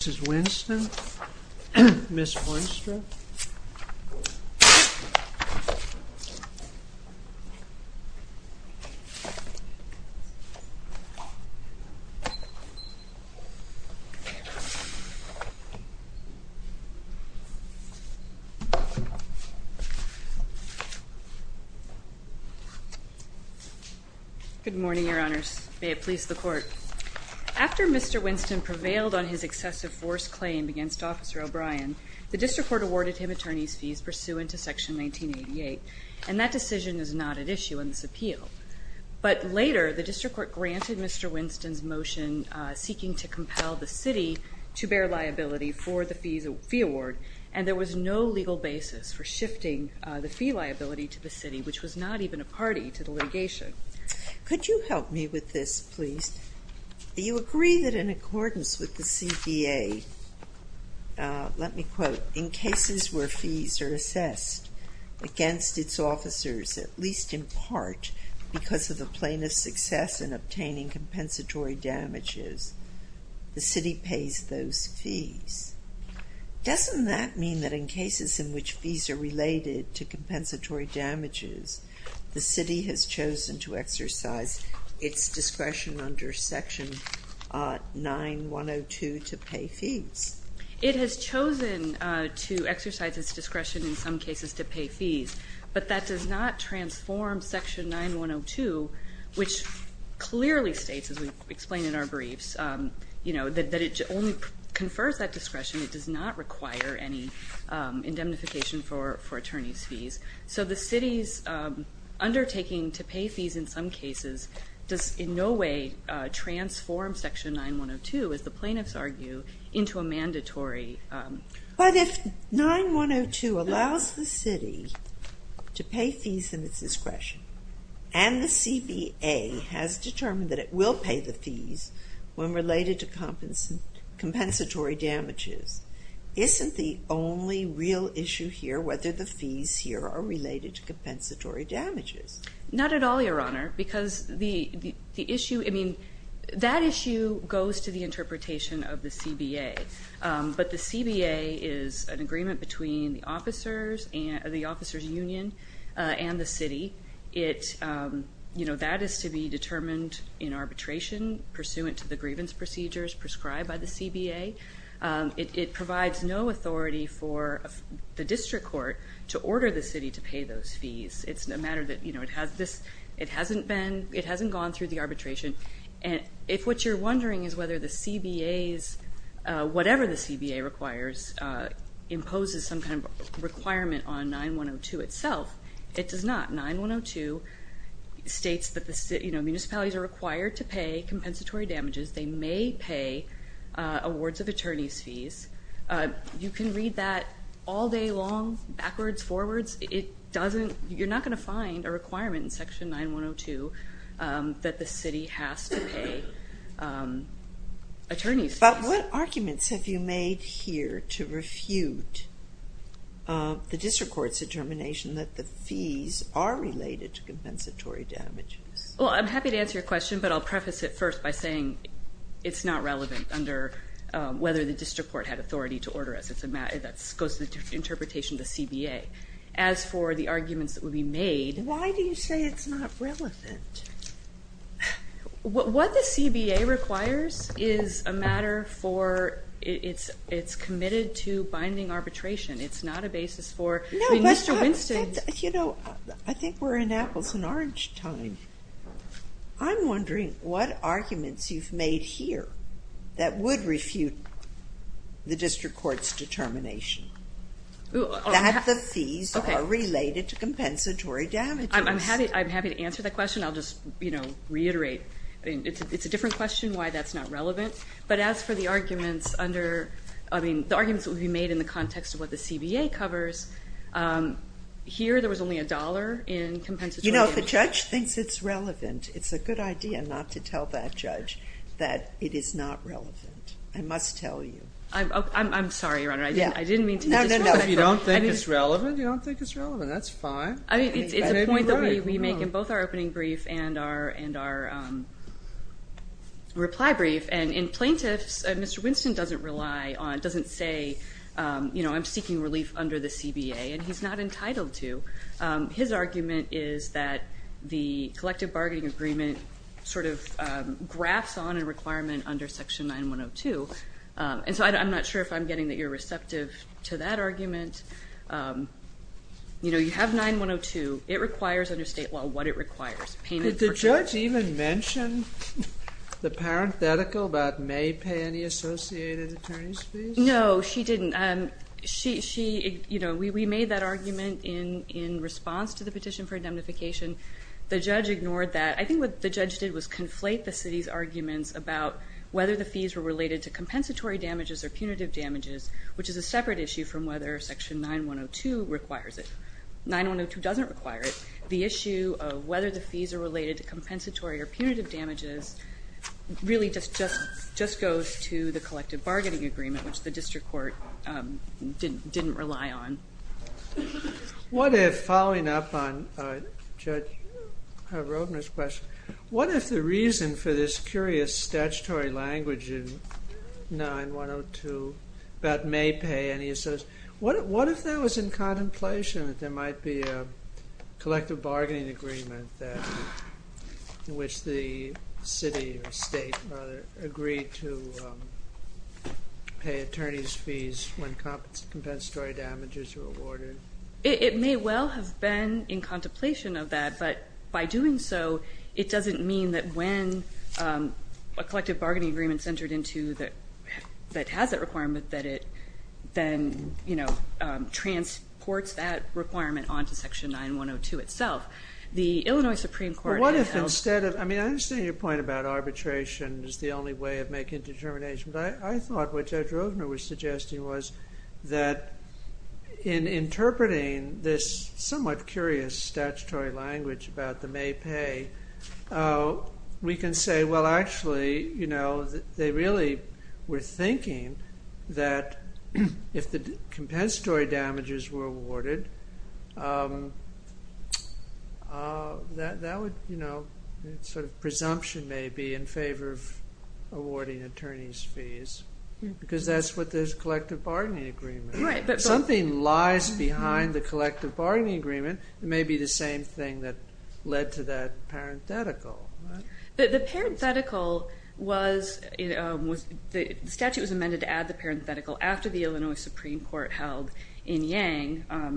Mrs. Winston, Ms. Winstrom. Good morning, Your Honors. After Mr. Winston prevailed on his excessive force claim against Officer O'Brien, the district court awarded him attorney's fees pursuant to Section 1988, and that decision is not at issue in this appeal. But later, the district court granted Mr. Winston's motion seeking to compel the city to bear liability for the fee award, and there was no legal basis for shifting the fee liability to the city, which was not even a party to the litigation. Could you help me with this, please? Do you agree that in accordance with the CBA, let me quote, in cases where fees are assessed against its officers, at least in part because of the plaintiff's success in obtaining compensatory damages, the city pays those fees? Doesn't that mean that in cases in which fees are related to compensatory damages, the city has chosen to exercise its discretion under Section 9102 to pay fees? It has chosen to exercise its discretion in some cases to pay fees, but that does not transform Section 9102, which clearly states, as we explained in our briefs, that it only confers that discretion. It does not require any indemnification for attorney's fees. So the city's undertaking to pay fees in some cases does in no way transform Section 9102, as the plaintiffs argue, into a mandatory. But if 9102 allows the city to pay fees in its discretion, and the CBA has determined that it will pay the fees when related to compensatory damages, isn't the only real issue here whether the fees here are related to compensatory damages? Not at all, Your Honor, because that issue goes to the interpretation of the CBA. But the CBA is an agreement between the officers union and the city. That is to be determined in arbitration pursuant to the grievance procedures prescribed by the CBA. It provides no authority for the district court to order the city to pay those fees. It's a matter that it hasn't gone through the arbitration. And if what you're wondering is whether the CBA's, whatever the CBA requires, imposes some kind of requirement on 9102 itself, it does not. 9102 states that municipalities are required to pay compensatory damages. They may pay awards of attorney's fees. You can read that all day long, backwards, forwards. You're not going to find a requirement in section 9102 that the city has to pay attorney's fees. But what arguments have you made here to refute the district court's determination that the fees are related to compensatory damages? Well, I'm happy to answer your question, but I'll preface it first by saying it's not relevant under whether the district court had authority to order us. That goes to the interpretation of the CBA. As for the arguments that would be made. Why do you say it's not relevant? What the CBA requires is a matter for it's committed to binding arbitration. It's not a basis for Mr. Winston. You know, I think we're in apples and orange time. I'm wondering what arguments you've made here that would refute the district court's determination that the fees are related to compensatory damages. I'm happy to answer that question. I'll just reiterate. It's a different question why that's not relevant. But as for the arguments under, I mean, the arguments that would be made in the context of what the CBA covers, here there was only a dollar in compensatory damages. You know, if the judge thinks it's relevant, it's a good idea not to tell that judge that it is not relevant. I must tell you. I'm sorry, Your Honor. I didn't mean to disrupt it. No, no, no, if you don't think it's relevant, you don't think it's relevant. That's fine. I mean, it's a point that we make in both our opening brief and our reply brief. And in plaintiffs, Mr. Winston doesn't rely on, doesn't say, you know, I'm seeking relief under the CBA. And he's not entitled to. His argument is that the collective bargaining agreement sort of graphs on a requirement under section 9102. And so I'm not sure if I'm getting that you're receptive to that argument. You know, you have 9102. It requires under state law what it requires. Payment for charges. Did the judge even mention the parenthetical about may pay any associated attorney's fees? No, she didn't. She, you know, we made that argument in response to the petition for indemnification. The judge ignored that. I think what the judge did was conflate the city's arguments about whether the fees were related to compensatory damages or punitive damages, which is a separate issue from whether section 9102 requires it. 9102 doesn't require it. The issue of whether the fees are related to compensatory or punitive damages really just goes to the collective bargaining agreement, which the district court didn't rely on. What if, following up on Judge Rodner's question, what if the reason for this curious statutory language in 9102 about may pay any associated, what if that was in contemplation that there might be a collective bargaining agreement in which the city or state agreed to pay attorney's fees when compensatory damages were awarded? It may well have been in contemplation of that. But by doing so, it doesn't mean that when a collective bargaining agreement has that requirement that it then transports that requirement onto section 9102 itself. The Illinois Supreme Court has held Well, what if instead of, I mean, I understand your point about arbitration is the only way of making a determination. But I thought what Judge Rodner was suggesting was that in interpreting this somewhat curious statutory language about the may pay, we can say, well, actually, they really were thinking that if the compensatory damages were awarded, that would, you know, sort of presumption may be in favor of awarding attorney's fees. Because that's what this collective bargaining agreement. Something lies behind the collective bargaining agreement. It may be the same thing that led to that parenthetical. But the parenthetical was, the statute was amended to add the parenthetical after the Illinois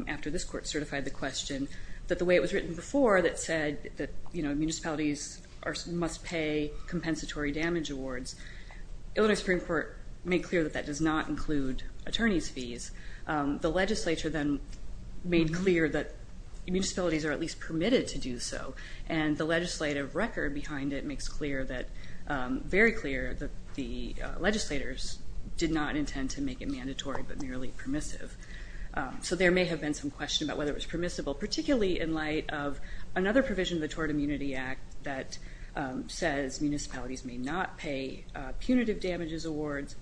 after this court certified the question, that the way it was written before that said that municipalities must pay compensatory damage awards. Illinois Supreme Court made clear that that does not include attorney's fees. The legislature then made clear that municipalities are at least permitted to do so. And the legislative record behind it makes clear that, very clear, that the legislators did not intend to make it mandatory, but merely permissive. So there may have been some question about whether it was permissible, particularly in light of another provision of the Tort Immunity Act that says municipalities may not pay punitive damages awards.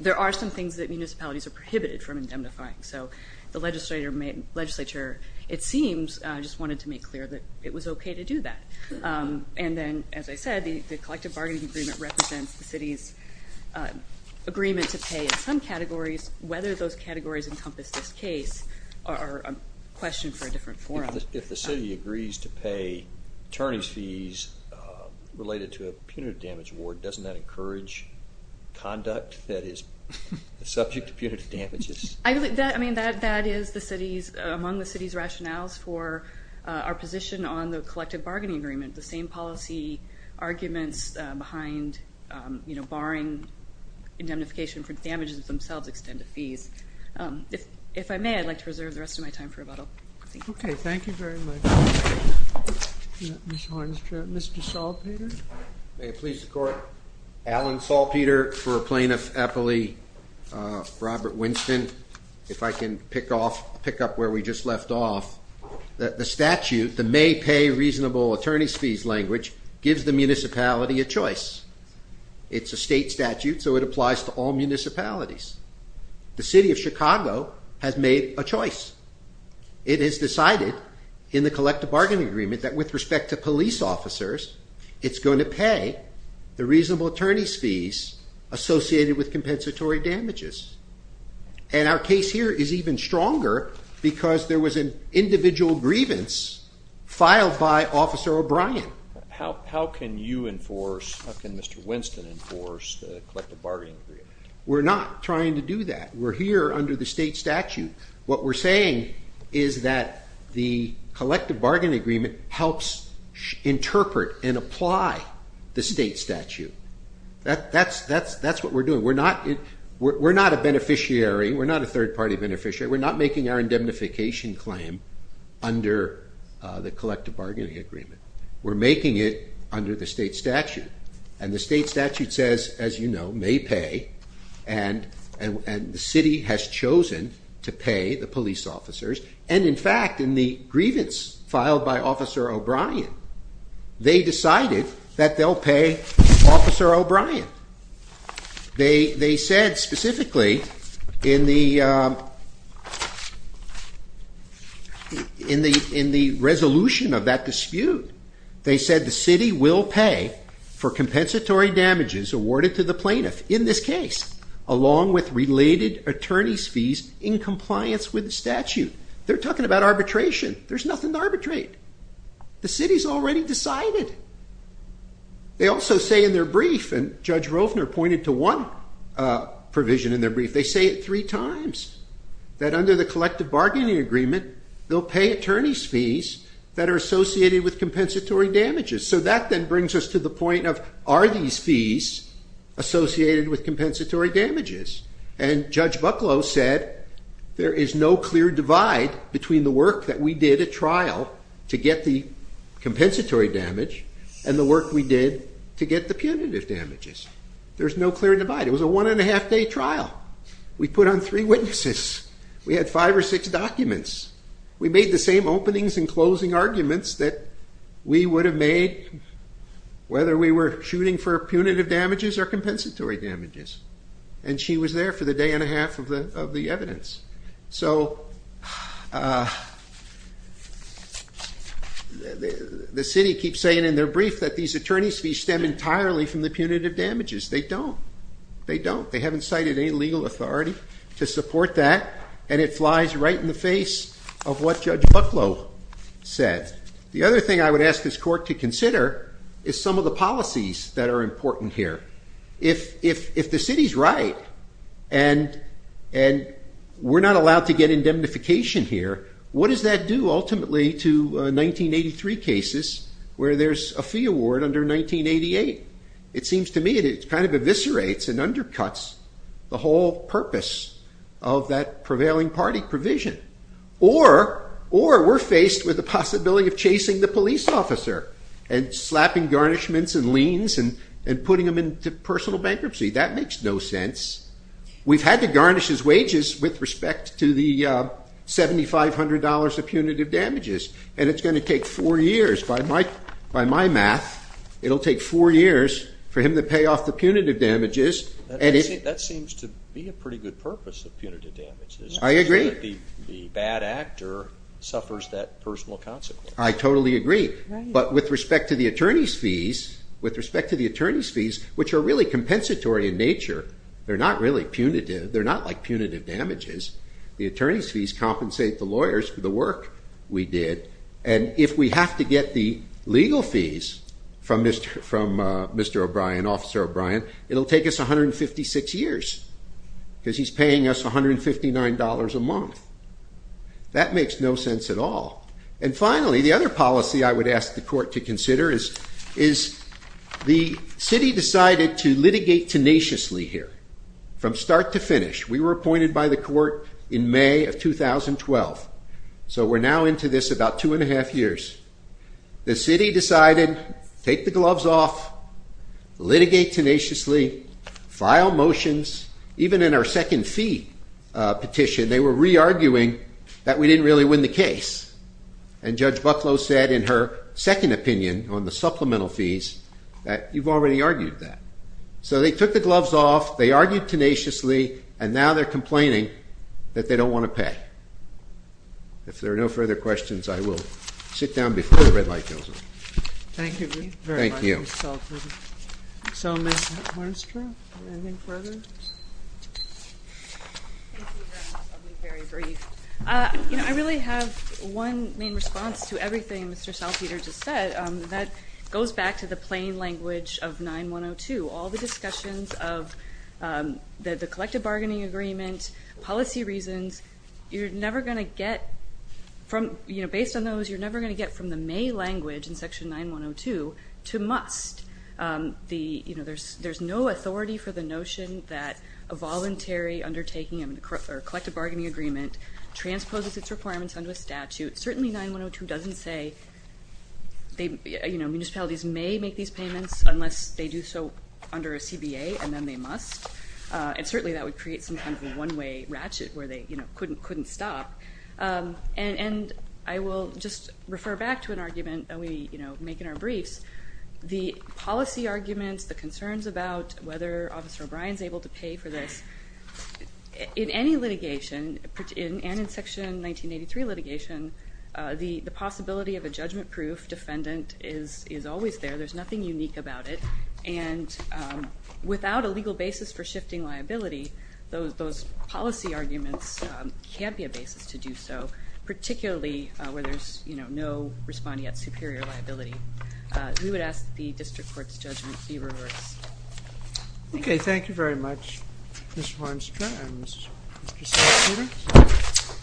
There are some things that municipalities are prohibited from indemnifying. So the legislature, it seems, just wanted to make clear that it was OK to do that. And then, as I said, the collective bargaining agreement represents the city's agreement to pay in some categories, whether those categories encompass this case are a question for a different forum. If the city agrees to pay attorney's fees related to a punitive damage award, doesn't that encourage conduct that is subject to punitive damages? I mean, that is among the city's rationales for our position on the collective bargaining agreement. The same policy arguments behind barring indemnification for damages of themselves extend to fees. If I may, I'd like to reserve the rest of my time for rebuttal. OK, thank you very much, Ms. Harnsdorf. Mr. Salpeter? May it please the court. Alan Salpeter for a plaintiff appellee. Robert Winston, if I can pick up where we just left off. The statute, the May Pay Reasonable Attorney's Fees language, gives the municipality a choice. It's a state statute, so it applies to all municipalities. The city of Chicago has made a choice. It has decided in the collective bargaining agreement that with respect to police officers, it's going to pay the reasonable attorney's fees associated with compensatory damages. And our case here is even stronger because there was an individual grievance filed by Officer O'Brien. How can you enforce, how can Mr. Winston enforce the collective bargaining agreement? We're not trying to do that. We're here under the state statute. What we're saying is that the collective bargaining agreement helps interpret and apply the state statute. That's what we're doing. We're not a beneficiary. We're not a third party beneficiary. We're not making our indemnification claim under the collective bargaining agreement. We're making it under the state statute. And the state statute says, as you know, May Pay. And the city has chosen to pay the police officers. And in fact, in the grievance filed by Officer O'Brien, they said specifically in the resolution of that dispute, they said the city will pay for compensatory damages awarded to the plaintiff in this case, along with related attorney's fees in compliance with the statute. They're talking about arbitration. There's nothing to arbitrate. The city's already decided. They also say in their brief, and Judge Rovner pointed to one provision in their brief, they say it three times, that under the collective bargaining agreement, they'll pay attorney's fees that are associated with compensatory damages. So that then brings us to the point of, are these fees associated with compensatory damages? And Judge Bucklow said, there is no clear divide between the work that we did at trial to get the compensatory damage and the work we did to get the punitive damages. There's no clear divide. It was a one and a half day trial. We put on three witnesses. We had five or six documents. We made the same openings and closing arguments that we would have made whether we were shooting for punitive damages or compensatory damages. And she was there for the day and a half of the evidence. So the city keeps saying in their brief that these attorney's fees stem entirely from the punitive damages. They don't. They don't. They haven't cited any legal authority to support that. And it flies right in the face of what Judge Bucklow said. The other thing I would ask this court to consider is some of the policies that are important here. If the city's right and we're not allowed to get indemnification here, what does that do ultimately to 1983 cases where there's a fee award under 1988? It seems to me that it kind of eviscerates and undercuts the whole purpose of that prevailing party provision. Or we're faced with the possibility of chasing the police officer and slapping garnishments and liens and putting them into personal bankruptcy. That makes no sense. We've had to garnish his wages with respect to the $7,500 of punitive damages. And it's going to take four years. By my math, it'll take four years for him to pay off the punitive damages. That seems to be a pretty good purpose of punitive damages. I agree. The bad actor suffers that personal consequence. I totally agree. But with respect to the attorney's fees, which are really compensatory in nature, they're not really punitive. They're not like punitive damages. The attorney's fees compensate the lawyers for the work we did. And if we have to get the legal fees from Mr. O'Brien, Officer O'Brien, it'll take us 156 years because he's paying us $159 a month. That makes no sense at all. And finally, the other policy I would ask the court to consider is the city decided to litigate tenaciously here from start to finish. We were appointed by the court in May of 2012. So we're now into this about 2 and 1⁄2 years. The city decided, take the gloves off, litigate tenaciously, file motions. Even in our second fee petition, they were re-arguing that we didn't really win the case. And Judge Bucklow said in her second opinion on the supplemental fees that you've already argued that. So they took the gloves off. They argued tenaciously. And now they're complaining that they don't want to pay. If there are no further questions, I will sit down before the red light goes on. Thank you very much, Mr. Saltzman. So Mr. Hartmister, do you have anything further? Very brief. I really have one main response to everything Mr. Saltzman just said. That goes back to the plain language of 9-1-0-2. All the discussions of the collective bargaining agreement, policy reasons, based on those, you're never going to get from the May language in section 9-1-0-2 to must. There's no authority for the notion that a voluntary undertaking of a collective bargaining agreement transposes its requirements under a statute. Certainly, 9-1-0-2 doesn't say municipalities may make these payments unless they do so under a CBA, and then they must. And certainly, that would create some kind of a one-way ratchet where they couldn't stop. And I will just refer back to an argument that we make in our briefs. The policy arguments, the concerns about whether Officer O'Brien is able to pay for this, in any litigation, and in section 1983 litigation, the possibility of a judgment-proof defendant is always there. There's nothing unique about it. And without a legal basis for shifting liability, those policy arguments can't be a basis to do so, particularly where there's no responding at superior liability. We would ask that the district court's judgment be reversed. OK, thank you very much, Ms. Hornstrand and Mr. Stavridis.